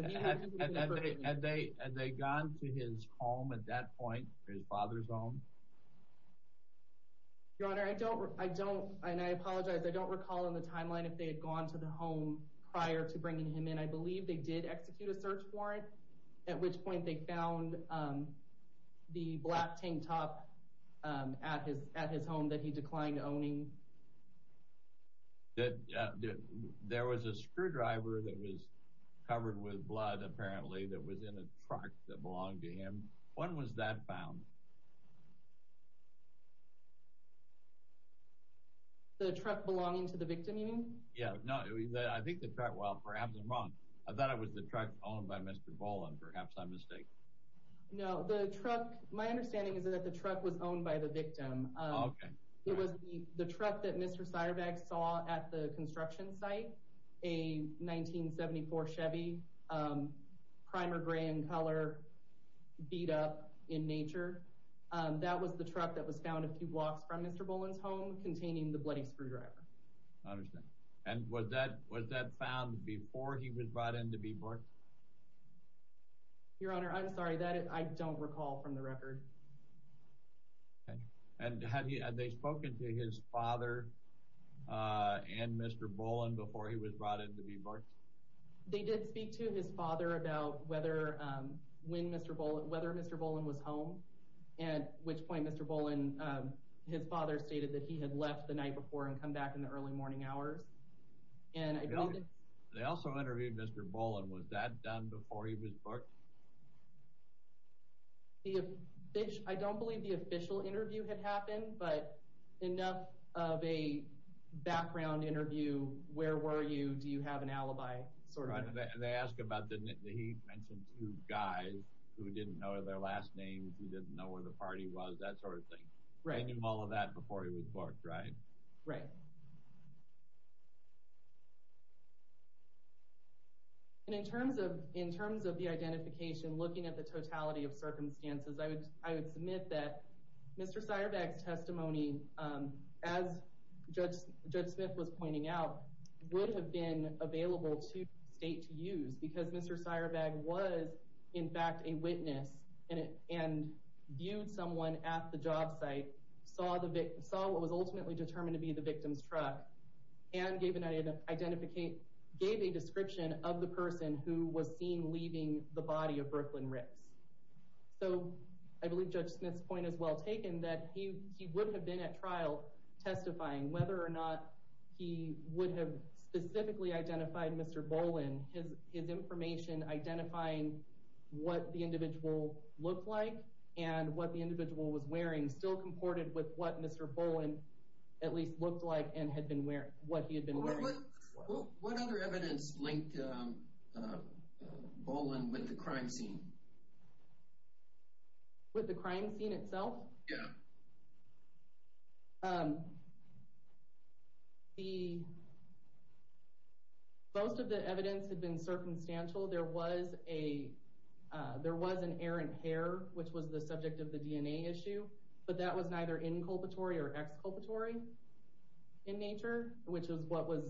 Had they... had they gone to his home at that point, his father's home? Your Honor, I don't... I don't... and I apologize. I don't recall in the timeline if they had gone to the home prior to bringing him in. I believe they did execute a search warrant, at which point they found the black tank top at his... at his home that he declined owning. There was a screwdriver that was covered with blood, apparently, that was in a truck that belonged to him. When was that found? The truck belonging to the victim, you mean? Yeah, no, I think the truck... well, perhaps I'm wrong. I thought it was the truck owned by Mr. Boland. Perhaps I'm mistaken. No, the truck... my understanding is that the truck was owned by the victim. Oh, okay. It was the truck that Mr. Seierbach saw at the construction site, a 1974 Chevy, primer gray in color, beat up in nature. That was the truck that was found a few blocks from Mr. Boland's home, containing the bloody screwdriver. I understand. And was that... was that found before he was brought in to be booked? Your Honor, I'm sorry, that I don't recall from the record. Okay. And had he... had they spoken to his father and Mr. Boland before he was brought in to be booked? They did speak to his father about whether... when Mr. Boland... whether Mr. Boland was home, at which point Mr. Boland... his father stated that he had left the night before and come back in the early morning hours. And I believe... They also interviewed Mr. Boland. Was that done before he was booked? I don't believe the official interview had happened, but enough of a sort of... They asked about... he mentioned two guys who didn't know their last names, who didn't know where the party was, that sort of thing. Right. They knew all of that before he was booked, right? Right. And in terms of... in terms of the identification, looking at the totality of circumstances, I would... I would submit that Mr. Seierbach's testimony, as Judge... would have been available to state to use, because Mr. Seierbach was, in fact, a witness and viewed someone at the job site, saw the victim... saw what was ultimately determined to be the victim's truck, and gave an identification... gave a description of the person who was seen leaving the body of Brooklyn Ricks. So I believe Judge Smith's point is well would have specifically identified Mr. Boland. His information identifying what the individual looked like and what the individual was wearing still comported with what Mr. Boland at least looked like and had been wearing... what he had been wearing. What other evidence linked Boland with the crime scene? With the crime scene itself? Yeah. Um, the... most of the evidence had been circumstantial. There was a... there was an errant hair, which was the subject of the DNA issue, but that was neither inculpatory or exculpatory in nature, which is what was...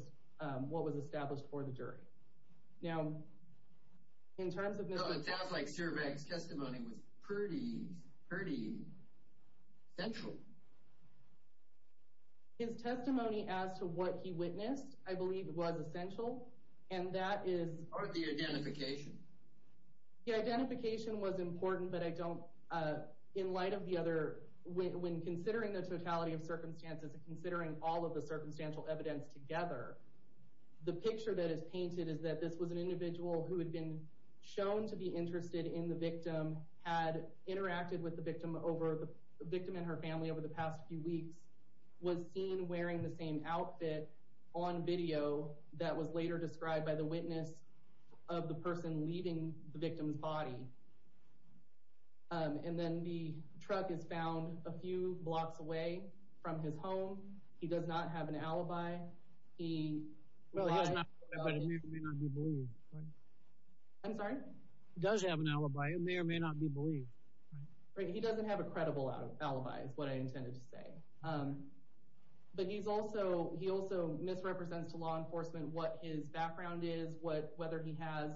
what was established for the jury. Now, in terms of Mr. Boland... No, it sounds like Seierbach's testimony was pretty... pretty central. His testimony as to what he witnessed, I believe, was essential, and that is... Or the identification. The identification was important, but I don't... in light of the other... when considering the totality of circumstances and considering all of the circumstantial evidence together, the picture that is painted is that this was an individual who had been shown to be interested in the victim, had interacted with the victim over... the victim and her family over the past few weeks, was seen wearing the same outfit on video that was later described by the witness of the person leaving the victim's body. And then the truck is found a few blocks away from his home. He does not have an alibi. He... Well, he does not, but it may or may not be believed, right? I'm sorry? He does have an alibi. It may or may not be believed. Right. He doesn't have a credible alibi, is what I intended to say. But he's also... he also misrepresents to law enforcement what his background is, what... whether he has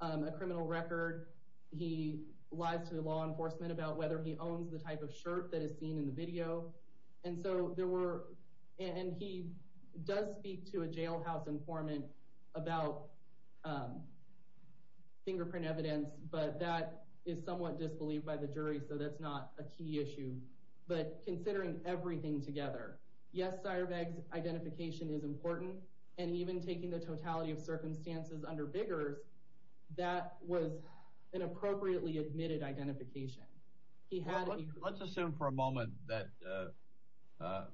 a criminal record. He lies to law enforcement about whether he owns the type of shirt that is seen in the video. And so there were... and he does speak to a jailhouse informant about fingerprint evidence, but that is somewhat disbelieved by the jury. So that's not a key issue. But considering everything together, yes, Seierbeg's identification is important. And even taking the totality of circumstances under Biggers, that was an appropriately admitted identification. He had... Let's assume for a moment that the... I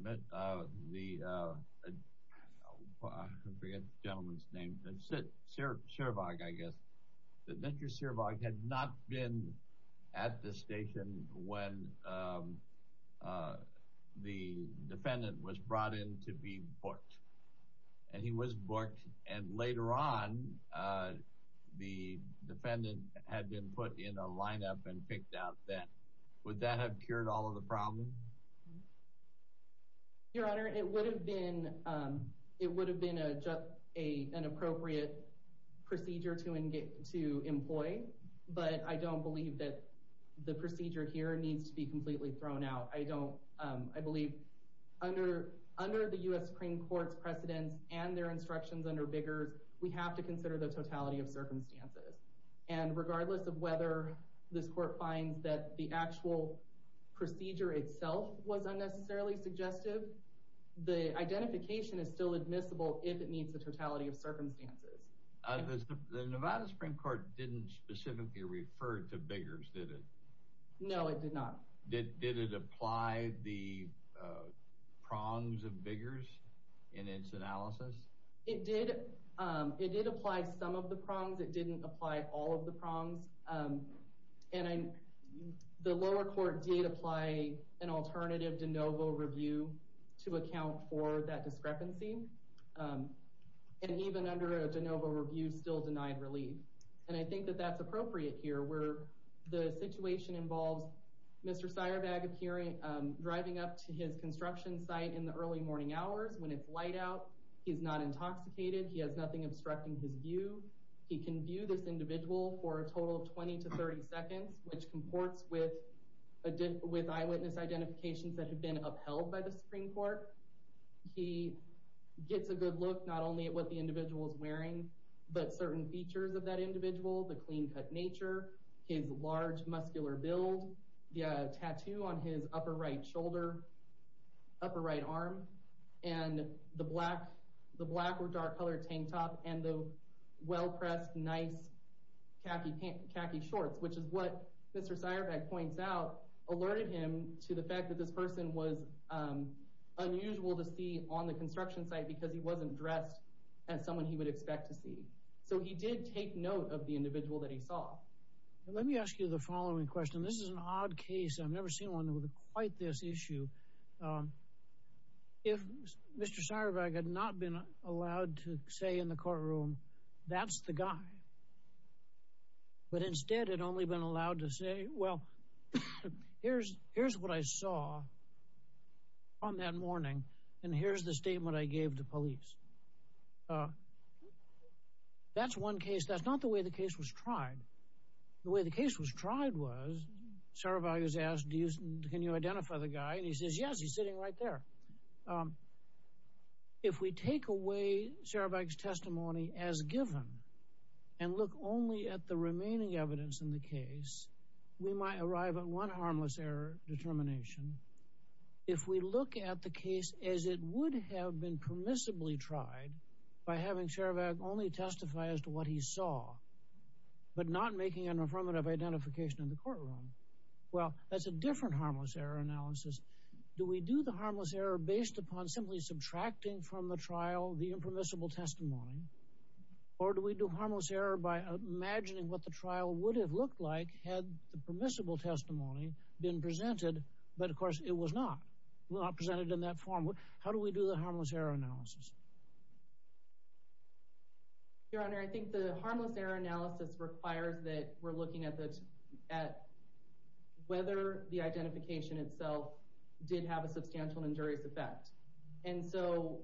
forget the gentleman's name, but Seierbeg, I guess, that Mr. Seierbeg had not been at the station when the defendant was brought in to be booked. And he was booked and later on the defendant had been put in a lineup and picked out then. Would that have cured all of the problem? Your Honor, it would have been... it would have been an appropriate procedure to employ, but I don't believe that the procedure here needs to be completely thrown out. I don't... I believe under the U.S. Supreme Court's precedents and their instructions under Biggers, we have to consider the totality of circumstances. And regardless of whether this court finds that the actual procedure itself was unnecessarily suggestive, the identification is still admissible if it meets the totality of circumstances. The Nevada Supreme Court didn't specifically refer to Biggers, did it? No, it did not. Did it apply the prongs of Biggers in its analysis? It did. It did apply some of the prongs. It didn't apply all of the prongs. And the lower court did apply an alternative de novo review to account for that discrepancy. And even under a de novo review, still denied relief. And I think that that's appropriate here where the situation involves Mr. Seierbeg appearing, driving up to his construction site in the early morning hours when it's light out. He's not intoxicated. He has nothing obstructing his view. He can view this individual for a total of 20 to 30 seconds, which comports with eyewitness identifications that have been upheld by the Supreme Court. He gets a good look not only at what the individual is wearing, but certain features of that individual, the clean-cut nature, his large muscular build, the tattoo on his right shoulder, upper right arm, and the black or dark-colored tank top, and the well-pressed, nice khaki shorts, which is what Mr. Seierbeg points out alerted him to the fact that this person was unusual to see on the construction site because he wasn't dressed as someone he would expect to see. So he did take note of the individual that he saw. Let me ask you the following question. This is an odd case. I've never seen one with quite this issue. If Mr. Seierbeg had not been allowed to say in the courtroom, that's the guy, but instead had only been allowed to say, well, here's what I saw on that morning, and here's the statement I gave to police. That's one case. That's not the way the case was tried. The way the case was tried was Seierbeg is asked, can you identify the guy? And he says, yes, he's sitting right there. If we take away Seierbeg's testimony as given and look only at the remaining evidence in the case, we might arrive at one harmless error determination. If we look at the case as it would have been permissibly tried by having Seierbeg only testify as to what he saw, but not making an affirmative identification in the courtroom, well, that's a different harmless error analysis. Do we do the harmless error based upon simply subtracting from the trial the impermissible testimony, or do we do harmless error by imagining what the trial would have looked like had the permissible testimony been presented, but, of course, it was not presented in that form? How do we do the harmless error analysis? Your Honor, I think the harmless error analysis requires that we're looking at whether the identification itself did have a substantial injurious effect. And so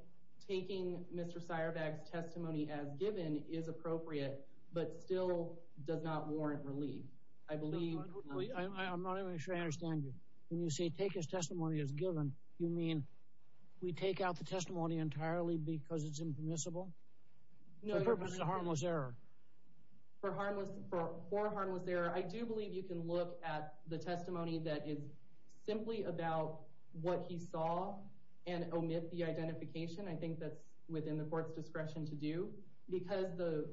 taking Mr. Seierbeg's testimony as given is appropriate, but still does not warrant relief. I believe... I'm not even sure I understand you. When you say take his testimony as given, you mean we take out the testimony entirely because it's impermissible? No, Your Honor. The purpose is a harmless error. For harmless... For a harmless error, I do believe you can look at the testimony that is simply about what he saw and omit the identification. I think that's within the court's discretion to do, because the...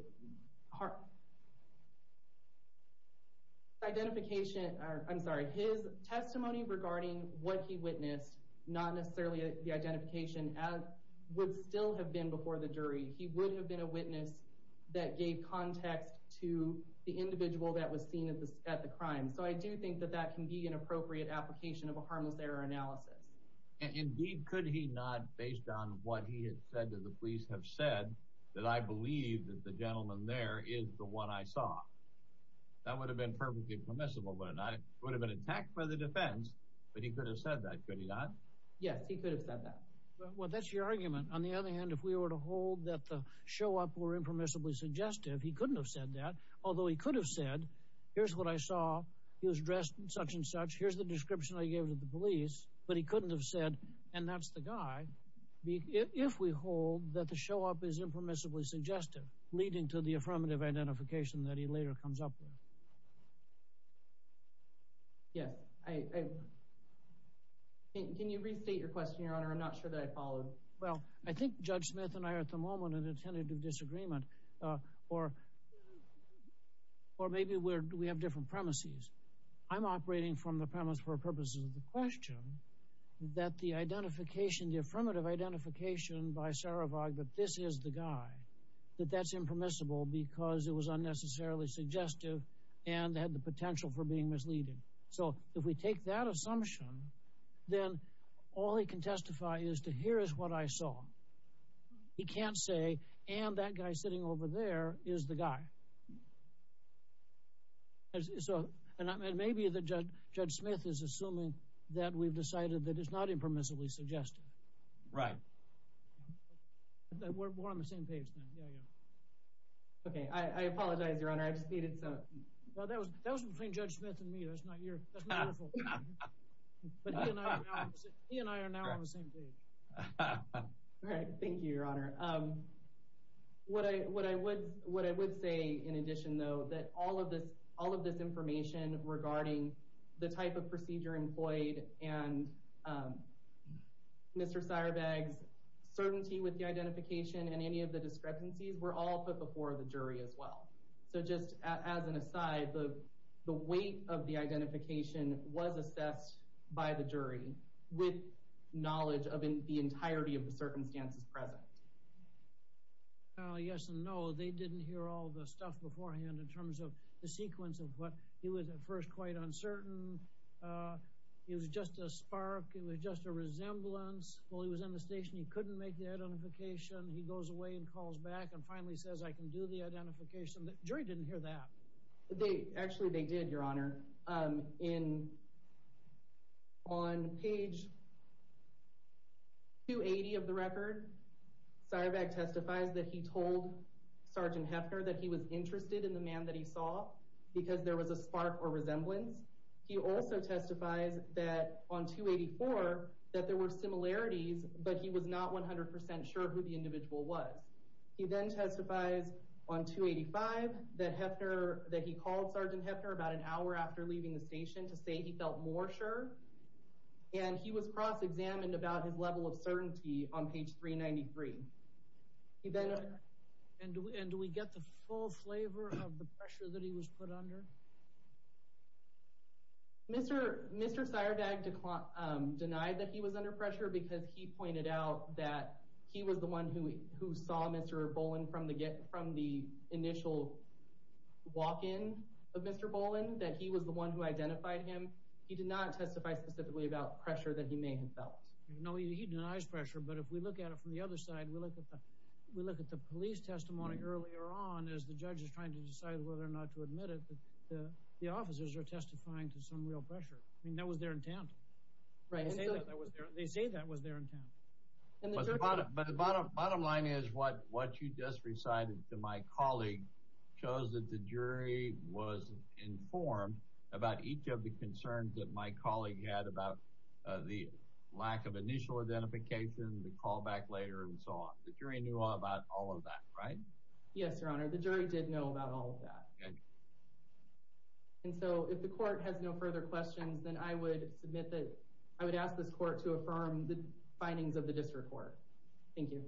The identification... I'm sorry. His testimony regarding what he witnessed, not necessarily the identification, would still have been before the jury. He would have been a witness that gave context to the individual that was seen at the crime. So I do think that that can be an appropriate application of a harmless error analysis. Indeed, could he not, based on what he had said to the police, have said that, I believe that the gentleman there is the one I saw? That would have been perfectly permissible, wouldn't it? I would have been attacked by the defense, but he could have said that, could he not? Yes, he could have said that. Well, that's your argument. On the other hand, if we were to hold that the show-up were impermissibly suggestive, he couldn't have said that. Although, he could have said, here's what I saw. He was dressed in such and such. Here's the description I gave to the police. But he couldn't have said, and that's the guy. If we hold that the show-up is impermissibly suggestive, leading to the affirmative identification that he later comes up with. Yes. Can you restate your question, Your Honor? I'm not sure that I followed. Well, I think Judge Smith and I are, at the moment, in a tentative disagreement, or maybe we have different premises. I'm operating from the premise, for purposes of the question, that the identification, the affirmative identification by Sarovag that this is the guy, that that's impermissible because it was unnecessarily suggestive and had the potential for being misleading. So, if we take that assumption, then all he can testify is to, here is what I saw. He can't say, and that guy sitting over there is the guy. So, and maybe Judge Smith is assuming that we've decided that it's not impermissibly suggestive. Right. We're on the same page then. Yeah, yeah. Okay. I apologize, Your Honor. I just needed to, well, that was between Judge Smith and me. That's not your, that's not your fault. But he and I are now on the same page. All right. Thank you, Your Honor. What I would say, in addition, though, that all of this, all of this information regarding the type of procedure employed and Mr. Sarovag's certainty with the identification and any of the discrepancies were all put before the jury as well. So, just as an aside, the weight of the identification was assessed by the jury with knowledge of the entirety of the circumstances present. Yes and no. They didn't hear all the stuff beforehand in terms of the sequence of what he was at first quite uncertain. It was just a spark. It was just a resemblance. Well, he was in the station. He couldn't make the identification. He goes away and calls back and finally says, I can do the identification. The jury didn't hear that. They, actually, they did, Your Honor. In, on page 280 of the record, Sarovag testifies that he told Sergeant Hefner that he was interested in the man that he saw because there was a spark or resemblance. He also testifies that on 284 that there were similarities, but he was not 100% sure who the individual was. He then testifies on 285 that Hefner, that he called Sergeant Hefner about an hour after leaving the station to say he felt more sure and he was cross-examined about his level of certainty on page 393. And do we get the full flavor of the pressure that he was put under? Mr. Sarovag denied that he was under pressure because he pointed out that he was the one who, who saw Mr. Boland from the get, from the initial walk-in of Mr. Boland, that he was the one who identified him. He did not testify specifically about pressure that he may have felt. No, he denies pressure, but if we look at it from the other side, we look at the, we look at the police testimony earlier on as the judge is trying to decide whether or not to admit it, but the, the officers are testifying to some real pressure. I mean, that was their intent. Right. They say that that was their, they say that was their intent. And the bottom, but the bottom, bottom line is what, what you just recited to my colleague shows that the jury was informed about each of the concerns that my colleague had about the lack of initial identification, the callback later, and so on. The jury knew about all of that, right? Yes, your honor. The jury did know about all of that. And so if the court has no further questions, then I would submit that I would ask this court to affirm the findings of the district court. Thank you.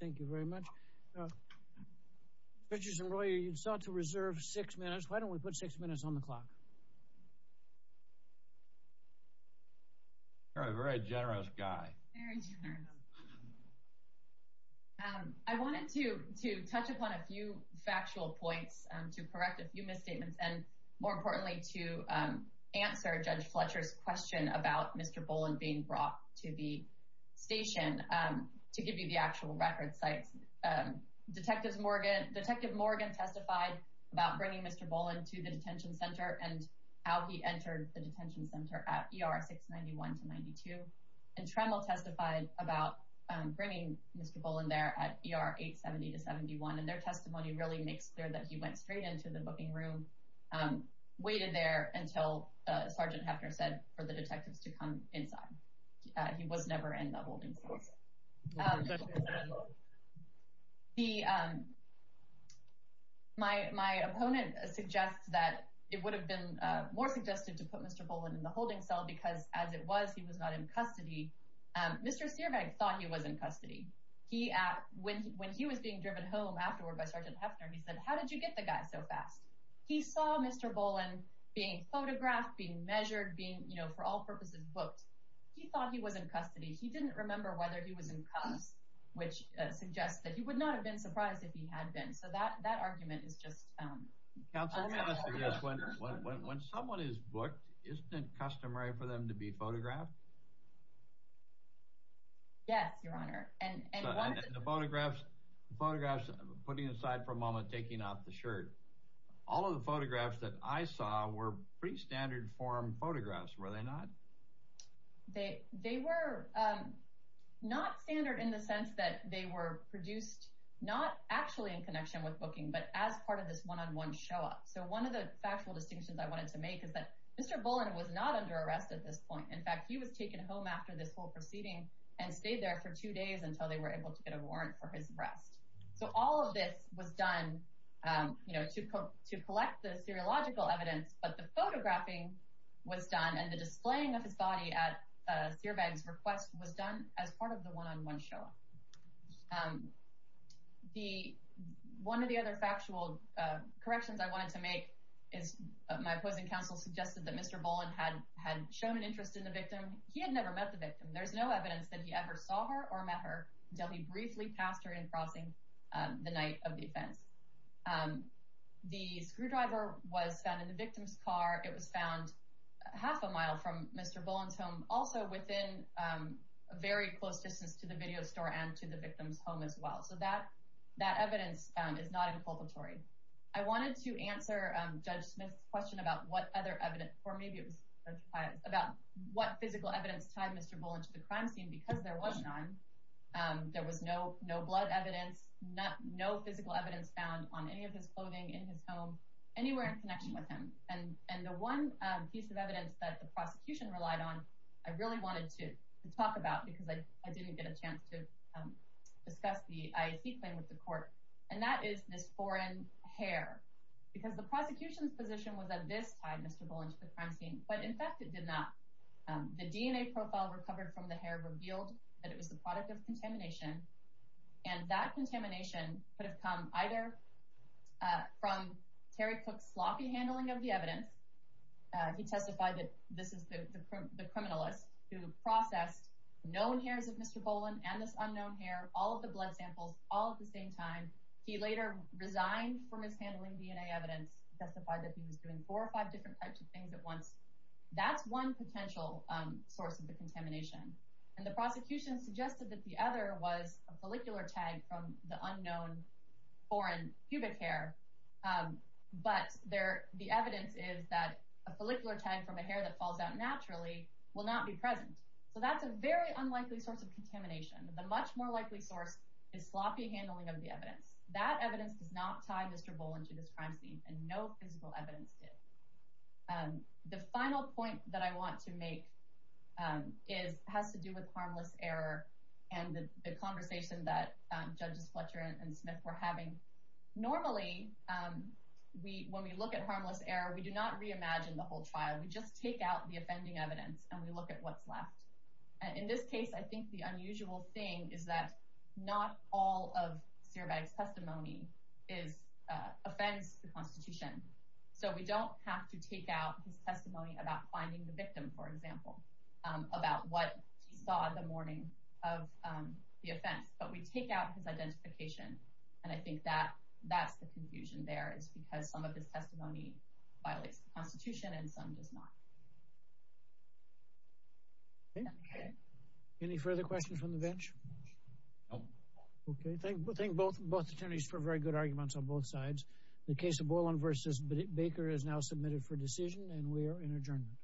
Thank you very much. Judges and lawyer, you sought to reserve six minutes. Why don't we put six minutes on the clock? You're a very generous guy. Very generous. I wanted to, to touch upon a few factual points to correct a few misstatements and more importantly to answer Judge Fletcher's question about Mr. Boland being brought to the station to give you the actual record sites. Detectives Morgan, Detective Morgan testified about bringing Mr. Boland to the detention center and how he entered the detention center at ER 691 to 92. And Tremble testified about bringing Mr. Boland there at ER 870 to 71. And their testimony really makes clear that he went straight into the booking room, waited there until Sergeant Hefner said for the detectives to come inside. He was never in the holding cell. My opponent suggests that it would have been more suggestive to put Mr. Boland in the holding cell because as it was, he was not in custody. Mr. Searbeck thought he was in custody. When he was being driven home afterward by Sergeant Hefner, he said, how did you get the guy so fast? He saw Mr. Boland being photographed, being measured, being, you know, for all purposes, booked. He thought he was in custody. He didn't remember whether he was in cuffs, which suggests that he would not have been surprised if he had been. So that, that argument is just. Counselor, when someone is booked, isn't it customary for them to be photographed? Yes, Your Honor. And the photographs, photographs, putting aside for a moment, taking off the shirt, all of the photographs that I saw were pretty standard form photographs, were they not? They were not standard in the sense that they were produced, not actually in connection with booking, but as part of this one-on-one show up. So one of the factual distinctions I wanted to make is that Mr. Boland was not under arrest at this point. In fact, he was taken home after this whole proceeding and stayed there for two days until they were able to get a warrant for his arrest. So all of this was done, you know, to collect the seriological evidence, but the photographing was done and the displaying of his body at Seerbegg's request was done as part of the one-on-one show up. One of the other factual corrections I wanted to make is my opposing counsel suggested that Mr. Boland had shown an interest in the victim. He had never met the the night of the offense. The screwdriver was found in the victim's car. It was found half a mile from Mr. Boland's home, also within a very close distance to the video store and to the victim's home as well. So that evidence found is not inculpatory. I wanted to answer Judge Smith's question about what other evidence, or maybe it was Judge Hyatt's, about what physical tied Mr. Boland to the crime scene because there was none. There was no blood evidence, no physical evidence found on any of his clothing in his home, anywhere in connection with him. And the one piece of evidence that the prosecution relied on, I really wanted to talk about because I didn't get a chance to discuss the IAC claim with the court, and that is this foreign hair. Because the prosecution's position was that this tied Mr. Boland to the crime scene, but in fact it did not. The DNA profile recovered from the hair revealed that it was the product of contamination, and that contamination could have come either from Terry Cook's sloppy handling of the evidence. He testified that this is the criminalist who processed known hairs of Mr. Boland and this unknown hair, all of the blood samples, all at the same time. He later resigned from his handling DNA evidence, testified that he was doing four or five different types of things at once. That's one potential source of the contamination. And the prosecution suggested that the other was a follicular tag from the unknown foreign pubic hair, but the evidence is that a follicular tag from a hair that falls out naturally will not be present. So that's a very unlikely source of contamination. The much more likely source is sloppy handling of the evidence. That evidence does not tie Mr. Boland to this crime scene, and no physical evidence did. The final point that I want to make has to do with harmless error and the conversation that Judges Fletcher and Smith were having. Normally, when we look at harmless error, we do not reimagine the whole trial. We just take out the offending evidence and we look at what's left. In this case, I think the unusual thing is that not all of Cierbag's testimony offends the Constitution. So we don't have to take out his testimony about finding the victim, for example, about what he saw the morning of the offense. But we take out his identification, and I think that's the confusion there. It's because some of his testimony violates the Constitution and some does not. Okay. Any further questions from the bench? No. Okay. Thank both attorneys for very good arguments on both sides. The case of Boland v. Baker is now submitted for decision, and we are in adjournment.